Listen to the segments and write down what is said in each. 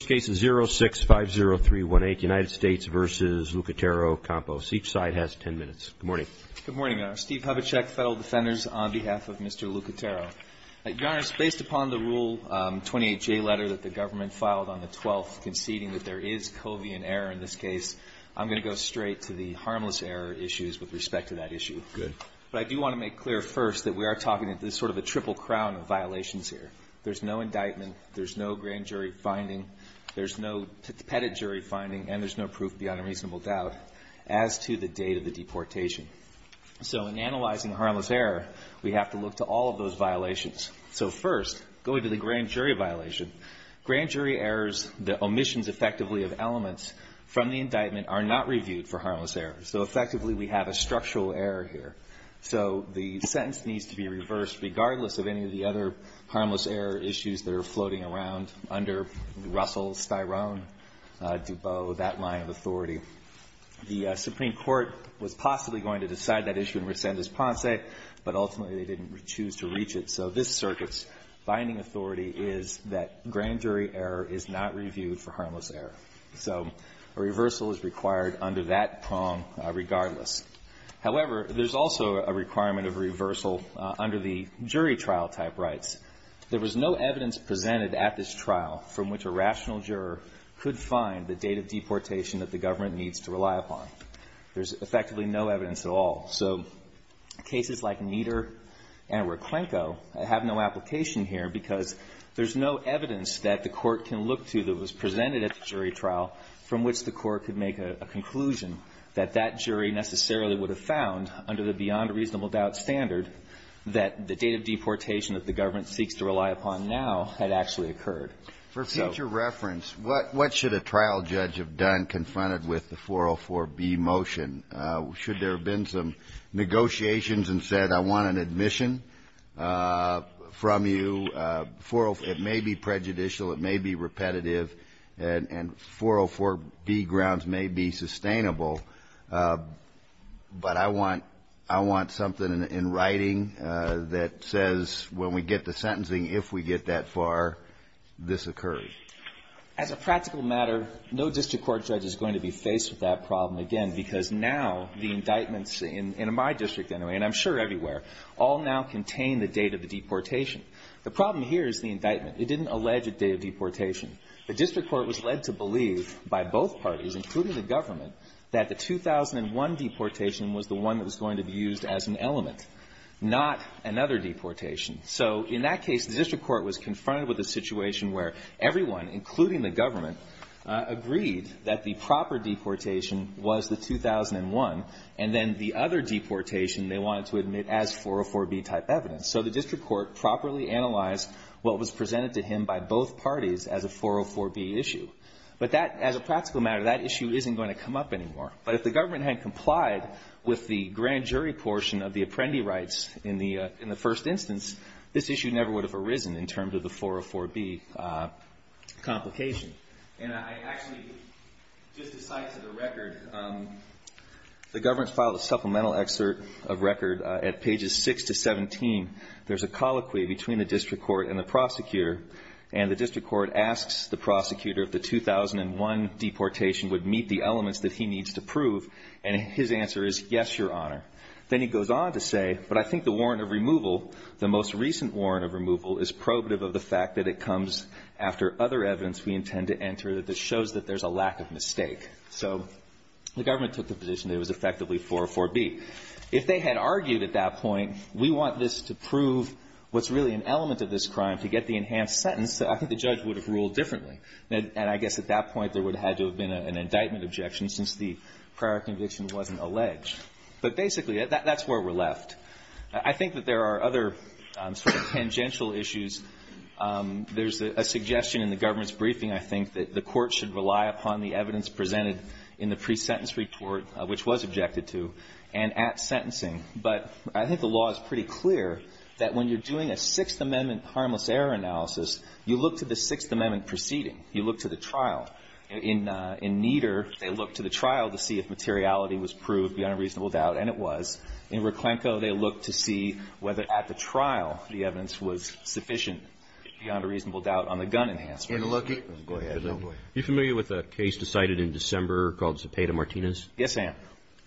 The first case is 0650318, United States v. Lucatero-Campos. Each side has 10 minutes. Good morning. Good morning, Your Honor. Steve Hovechek, Federal Defenders, on behalf of Mr. Lucatero. Your Honor, it's based upon the Rule 28J letter that the government filed on the 12th, conceding that there is covian error in this case. I'm going to go straight to the harmless error issues with respect to that issue. Good. But I do want to make clear first that we are talking sort of a triple crown of violations here. There's no indictment. There's no grand jury finding. There's no petit jury finding. And there's no proof beyond a reasonable doubt as to the date of the deportation. So in analyzing harmless error, we have to look to all of those violations. So first, going to the grand jury violation. Grand jury errors, the omissions effectively of elements from the indictment, are not reviewed for harmless error. So effectively, we have a structural error here. So the sentence needs to be reversed regardless of any of the other harmless error issues that are floating around under Russell, Styrone, DuBose, that line of authority. The Supreme Court was possibly going to decide that issue in rescind this ponce, but ultimately they didn't choose to reach it. So this circuit's binding authority is that grand jury error is not reviewed for harmless error. So a reversal is required under that prong regardless. However, there's also a requirement of reversal under the jury trial type rights. There was no evidence presented at this trial from which a rational juror could find the date of deportation that the government needs to rely upon. There's effectively no evidence at all. So cases like Nieder and Reclenco have no application here because there's no evidence that the court can look to that was presented at the jury trial from which the court could make a conclusion that that jury necessarily needs to be reviewed. And the court necessarily would have found under the beyond reasonable doubt standard that the date of deportation that the government seeks to rely upon now had actually occurred. For future reference, what should a trial judge have done confronted with the 404B motion? Should there have been some negotiations and said, I want an admission from you? It may be prejudicial, it may be repetitive, and 404B grounds may be sustainable. But I want something in writing that says when we get to sentencing, if we get that far, this occurred. As a practical matter, no district court judge is going to be faced with that problem again because now the indictments in my district anyway, and I'm sure everywhere, all now contain the date of the deportation. The problem here is the indictment. It didn't allege a date of deportation. The district court was led to believe by both parties, including the government, that the 2001 deportation was the one that was going to be used as an element, not another deportation. So in that case, the district court was confronted with a situation where everyone, including the government, agreed that the proper deportation was the 2001 and then the other deportation they wanted to admit as 404B type evidence. So the district court properly analyzed what was presented to him by both parties as a 404B issue. But that, as a practical matter, that issue isn't going to come up anymore. But if the government had complied with the grand jury portion of the apprendee rights in the first instance, this issue never would have arisen in terms of the 404B complication. And I actually, just a side to the record, the government filed a supplemental excerpt of record at pages 6 to 17. There's a colloquy between the district court and the prosecutor, and the district court asks the prosecutor if the 2001 deportation would meet the elements that he needs to prove, and his answer is, yes, Your Honor. Then he goes on to say, but I think the warrant of removal, the most recent warrant of removal, is probative of the fact that it comes after other evidence we intend to enter that shows that there's a lack of mistake. So the government took the position that it was effectively 404B. If they had argued at that point, we want this to prove what's really an element of this crime to get the enhanced sentence, I think the judge would have ruled differently. And I guess at that point there would have had to have been an indictment objection since the prior conviction wasn't alleged. But basically, that's where we're left. I think that there are other sort of tangential issues. There's a suggestion in the government's briefing, I think, that the court should rely upon the evidence presented in the pre-sentence report, which was objected to. And at sentencing. But I think the law is pretty clear that when you're doing a Sixth Amendment harmless error analysis, you look to the Sixth Amendment proceeding. You look to the trial. In Nieder, they looked to the trial to see if materiality was proved beyond a reasonable doubt, and it was. In Reclenco, they looked to see whether at the trial the evidence was sufficient beyond a reasonable doubt on the gun enhancements. Go ahead. Are you familiar with a case decided in December called Cepeda-Martinez? Yes, I am.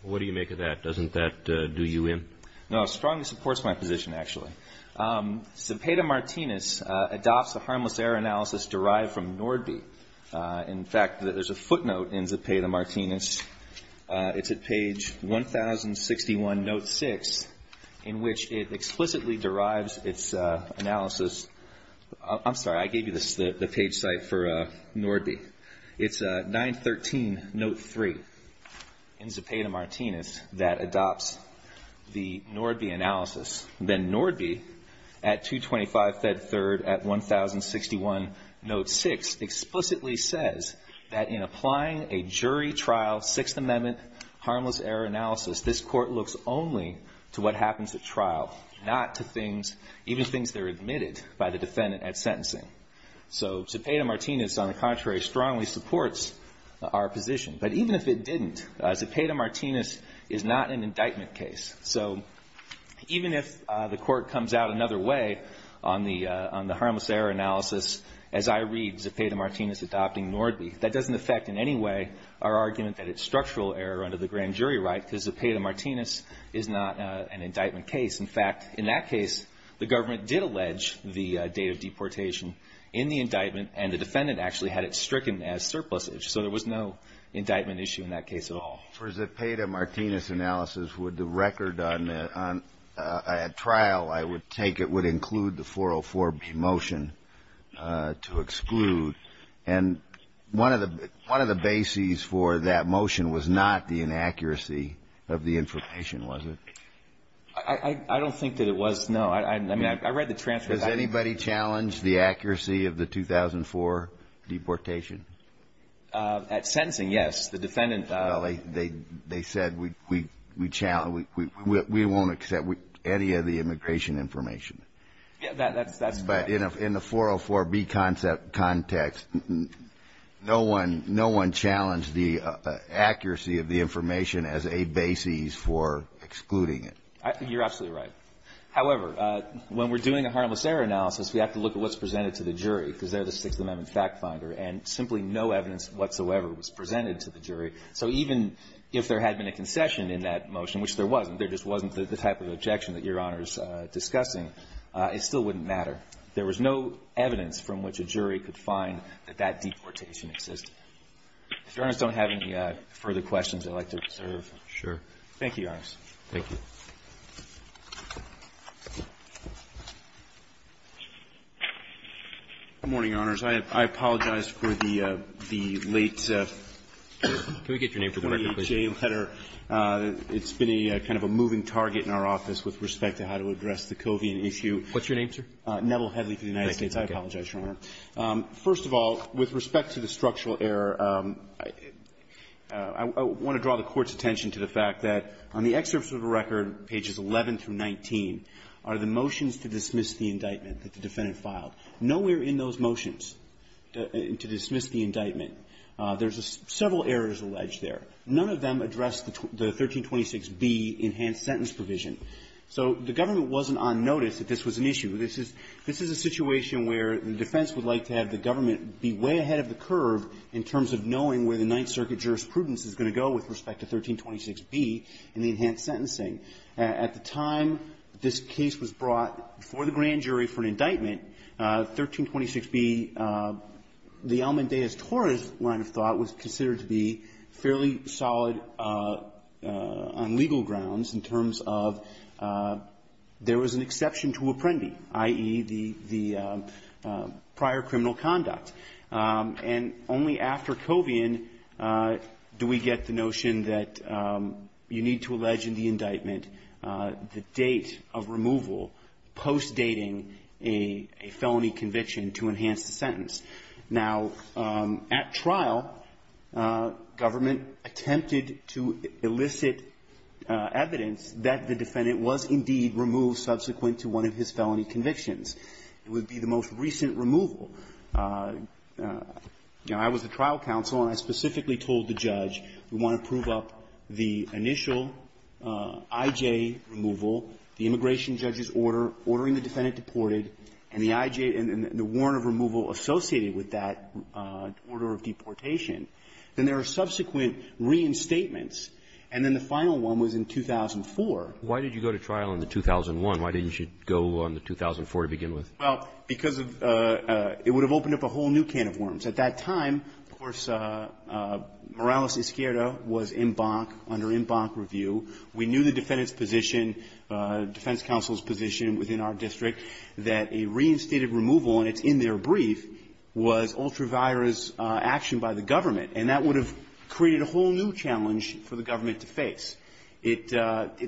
What do you make of that? Doesn't that do you in? No. It strongly supports my position, actually. Cepeda-Martinez adopts a harmless error analysis derived from Nordby. In fact, there's a footnote in Cepeda-Martinez. It's at page 1061, note 6, in which it explicitly derives its analysis. I'm sorry. I gave you the page site for Nordby. It's 913, note 3. In Cepeda-Martinez. It's a footnote in Cepeda-Martinez that adopts the Nordby analysis, then Nordby at 225, Fed 3 at 1061, note 6, explicitly says that in applying a jury trial, Sixth Amendment, harmless error analysis, this Court looks only to what happens at trial, not to things, even things that are admitted by the defendant at sentencing. So Cepeda-Martinez, on the contrary, strongly supports our position. But even if it didn't, Cepeda-Martinez is not an indictment case. So even if the Court comes out another way on the harmless error analysis, as I read Cepeda-Martinez adopting Nordby, that doesn't affect in any way our argument that it's structural error under the grand jury right, because Cepeda-Martinez is not an indictment case. In fact, in that case, the government did allege the date of deportation in the indictment, and the defendant actually had it stricken as surplusage. So there was no indictment issue in that case at all. For Cepeda-Martinez analysis, would the record on a trial, I would take it, would include the 404-B motion to exclude. And one of the bases for that motion was not the inaccuracy of the information, was it? I don't think that it was, no. I mean, I read the transcript. Does anybody challenge the accuracy of the 2004 deportation? At sentencing, yes. The defendant... Well, they said we challenge, we won't accept any of the immigration information. Yeah, that's correct. But in the 404-B context, no one challenged the accuracy of the information as a basis for excluding it. You're absolutely right. However, when we're doing a harmless error analysis, we have to look at what's presented to the jury, because they're the Sixth Amendment fact finder, and simply no evidence whatsoever was presented to the jury. So even if there had been a concession in that motion, which there wasn't, there just wasn't the type of objection that Your Honor is discussing, it still wouldn't matter. There was no evidence from which a jury could find that that deportation existed. If Your Honors don't have any further questions, I'd like to reserve. Sure. Thank you, Your Honors. Thank you. Good morning, Your Honors. I apologize for the late... Can we get your name for the record, please? ...the late J letter. It's been a kind of a moving target in our office with respect to how to address the Covian issue. What's your name, sir? Neville Headley for the United States. Thank you. I apologize, Your Honor. First of all, with respect to the structural error, I want to draw the Court's attention to the fact that on the excerpts of the record, there's been a lot of discussion about how to address the Covian issue. The first thing that I'd like to point out is that on pages 11 through 19 are the motions to dismiss the indictment that the defendant filed. Nowhere in those motions to dismiss the indictment, there's several errors alleged there. None of them address the 1326B enhanced sentence provision. So the government wasn't on notice that this was an issue. This is a situation where the defense would like to have the government be way ahead of the curve in terms of knowing where the Ninth Circuit jurisprudence is going to go with respect to 1326B and the enhanced sentencing. At the time this case was brought before the grand jury for an indictment, 1326B, the Elma and Deis Torres line of thought was considered to be fairly solid on legal grounds in terms of there was an exception to Apprendi, i.e. the prior criminal conduct. And only after Covian do we get the notion that you need to allege in the indictment that the defendant is being held on an indictment, the date of removal post-dating a felony conviction to enhance the sentence. Now, at trial, government attempted to elicit evidence that the defendant was indeed removed subsequent to one of his felony convictions. It would be the most recent removal. Now, I was the trial counsel, and I specifically told the judge, we want to prove up the initial IJ removal, the immigration judge's order, ordering the defendant deported, and the IJ and the warrant of removal associated with that order of deportation. Then there are subsequent reinstatements, and then the final one was in 2004. Why did you go to trial in the 2001? Why didn't you go on the 2004 to begin with? Well, because of the – it would have opened up a whole new can of worms. At that time, of course, Morales-Izquierda was in bonk, under in bonk review. We knew the defendant's position, defense counsel's position within our district, that a reinstated removal, and it's in their brief, was ultra-virus action by the government. And that would have created a whole new challenge for the government to face. It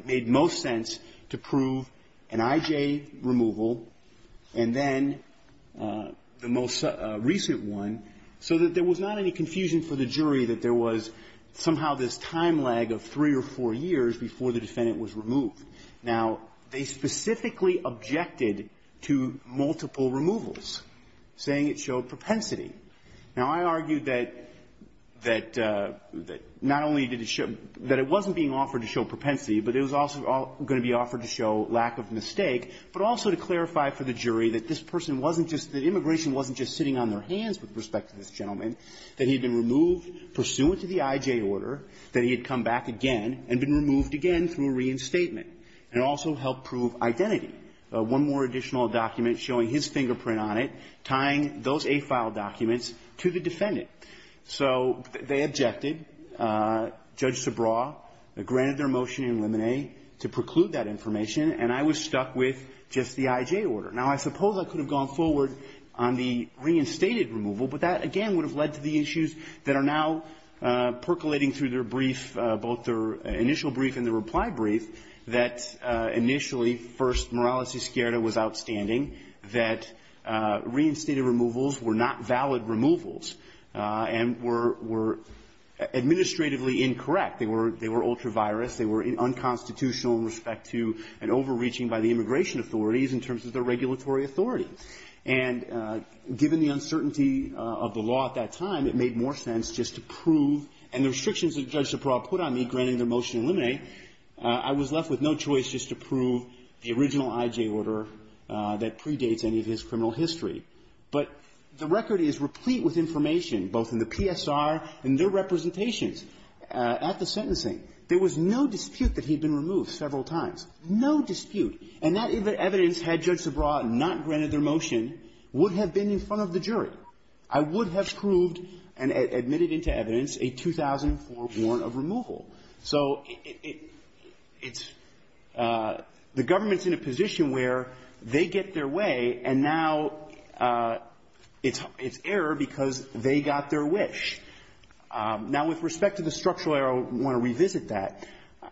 made most sense to prove an IJ removal, and then the most recent one, so that there was not any confusion for the jury that there was somehow this time lag of three or four years before the defendant was removed. Now, they specifically objected to multiple removals, saying it showed propensity. Now, I argued that not only did it show – that it wasn't being offered to show propensity, but it was also going to be offered to show lack of mistake, but also to clarify for the jury that this person wasn't just – that immigration wasn't just sitting on their hands with respect to this gentleman, that he had been removed pursuant to the IJ order, that he had come back again and been removed again through a reinstatement, and also helped prove identity. One more additional document showing his fingerprint on it, tying those A-file documents to the defendant. So they objected. Judge Subraw granted their motion in limine to preclude that information, and I was stuck with just the IJ order. Now, I suppose I could have gone forward on the reinstated removal, but that again would have led to the issues that are now percolating through their brief, both their initial brief and the reply brief, that initially, first, Morales-Izquierda was outstanding, that reinstated removals were not valid removals and were – were administratively incorrect. They were – they were ultra-virus. They were unconstitutional in respect to an overreaching by the immigration authorities in terms of their regulatory authority. And given the uncertainty of the law at that time, it made more sense just to prove – and the restrictions that Judge Subraw put on me, granting their motion in limine, I was left with no choice just to prove the original IJ order that predates any of his criminal history. But the record is replete with information, both in the PSR and their representations at the sentencing. There was no dispute that he had been removed several times. No dispute. And that evidence, had Judge Subraw not granted their motion, would have been in front of the jury. I would have proved and admitted into evidence a 2004 warrant of removal. So it's – the government's in a position where they get their way, and now it's error because they got their wish. Now, with respect to the structural error, I want to revisit that.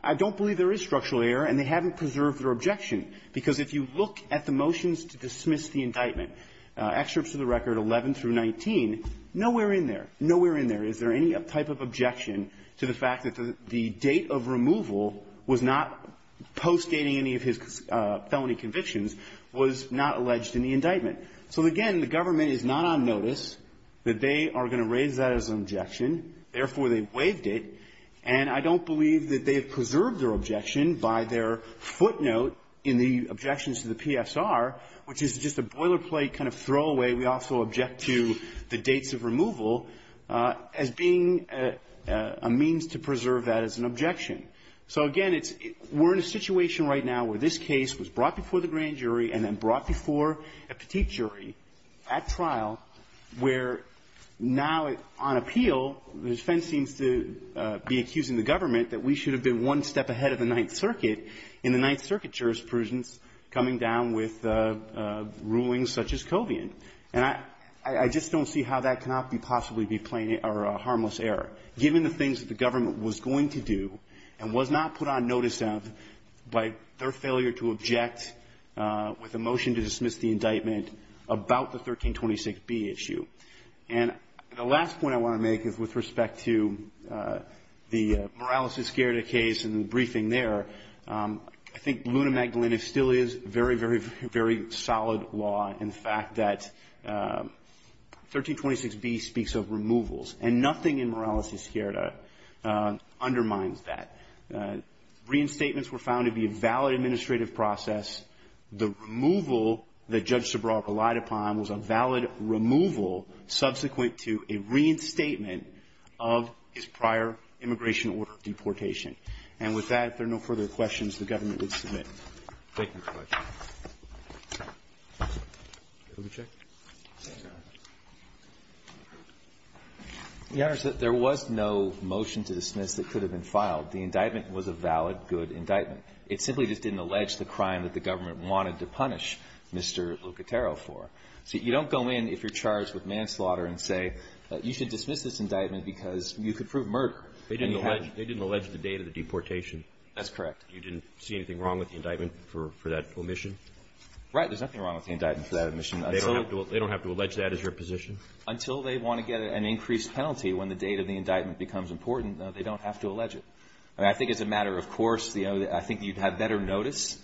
I don't believe there is structural error, and they haven't preserved their objection. Because if you look at the motions to dismiss the indictment, excerpts of the record 11 through 19, nowhere in there, nowhere in there is there any type of objection to the fact that the date of removal was not postdating any of his felony convictions, was not alleged in the indictment. So, again, the government is not on notice that they are going to raise that as an objection. Therefore, they waived it. And I don't believe that they have preserved their objection by their footnote in the objections to the PSR, which is just a boilerplate kind of throwaway. We also object to the dates of removal as being a means to preserve that as an objection. So, again, it's – we're in a situation right now where this case was brought before the grand jury and then brought before a petite jury at trial where now, on appeal, the defense seems to be accusing the government that we should have been one step ahead of the Ninth Circuit in the Ninth Circuit jurisprudence coming down with rulings such as Covian. And I just don't see how that cannot be possibly be plain or a harmless error, given the things that the government was going to do and was not put on notice of by their failure to object with a motion to dismiss the indictment about the 1326b issue. And the last point I want to make is with respect to the Morales-Izquierda case and the briefing there, I think Luna Magdalena still is very, very, very solid law in the fact that 1326b speaks of removals. And nothing in Morales-Izquierda undermines that. Reinstatements were found to be a valid administrative process. The removal that Judge Sobral relied upon was a valid removal subsequent to a reinstatement of his prior immigration order of deportation. And with that, if there are no further questions, the government would submit. Thank you very much. Let me check. Your Honor, there was no motion to dismiss that could have been filed. The indictment was a valid, good indictment. It simply just didn't allege the crime that the government wanted to punish Mr. Lucatero for. So you don't go in if you're charged with manslaughter and say, you should dismiss this indictment because you could prove murder. They didn't allege the date of the deportation. That's correct. You didn't see anything wrong with the indictment for that omission? Right. There's nothing wrong with the indictment for that omission. They don't have to allege that as your position? Until they want to get an increased penalty when the date of the indictment becomes important, they don't have to allege it. I think as a matter of course, I think you'd have better notice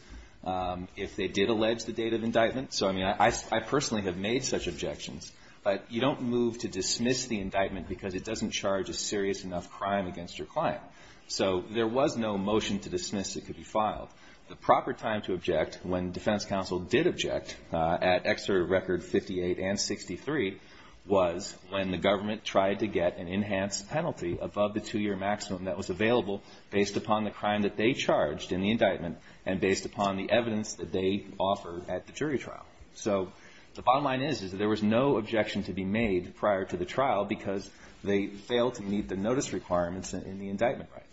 if they did allege the date of indictment. So I mean, I personally have made such objections. But you don't move to dismiss the indictment because it doesn't charge a serious enough crime against your client. So there was no motion to dismiss it could be filed. The proper time to object when defense counsel did object at Exeter Record 58 and 63 was when the government tried to get an enhanced penalty above the two year maximum that was available based upon the crime that they charged in the indictment and based upon the evidence that they offered at the jury trial. So the bottom line is, is that there was no objection to be made prior to the trial because they failed to meet the notice requirements in the indictment right.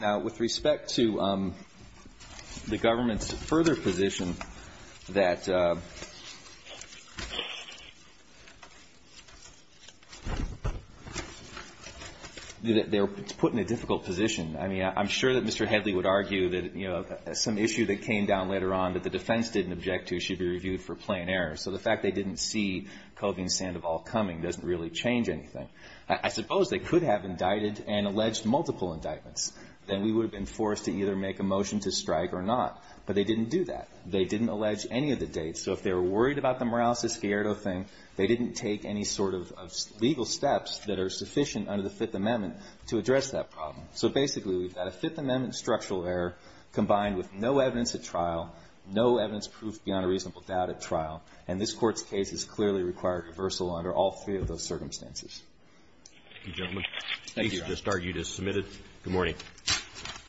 Now, with respect to the government's further position that they were put in a difficult position. I mean, I'm sure that Mr. Hedley would argue that, you know, some issue that came down later on that the defense didn't object to should be reviewed for plain error. So the fact they didn't see Kovin, Sandoval coming doesn't really change anything. I suppose they could have indicted and alleged multiple indictments. Then we would have been forced to either make a motion to strike or not. But they didn't do that. They didn't allege any of the dates. So if they were worried about the Morales-Escalado thing, they didn't take any sort of legal steps that are sufficient under the Fifth Amendment to address that problem. So basically, we've got a Fifth Amendment structural error combined with no evidence at trial, no evidence proof beyond a reasonable doubt at trial. And this Court's case has clearly required reversal under all three of those circumstances. Thank you, Your Honor. The case you just argued is submitted. Good morning.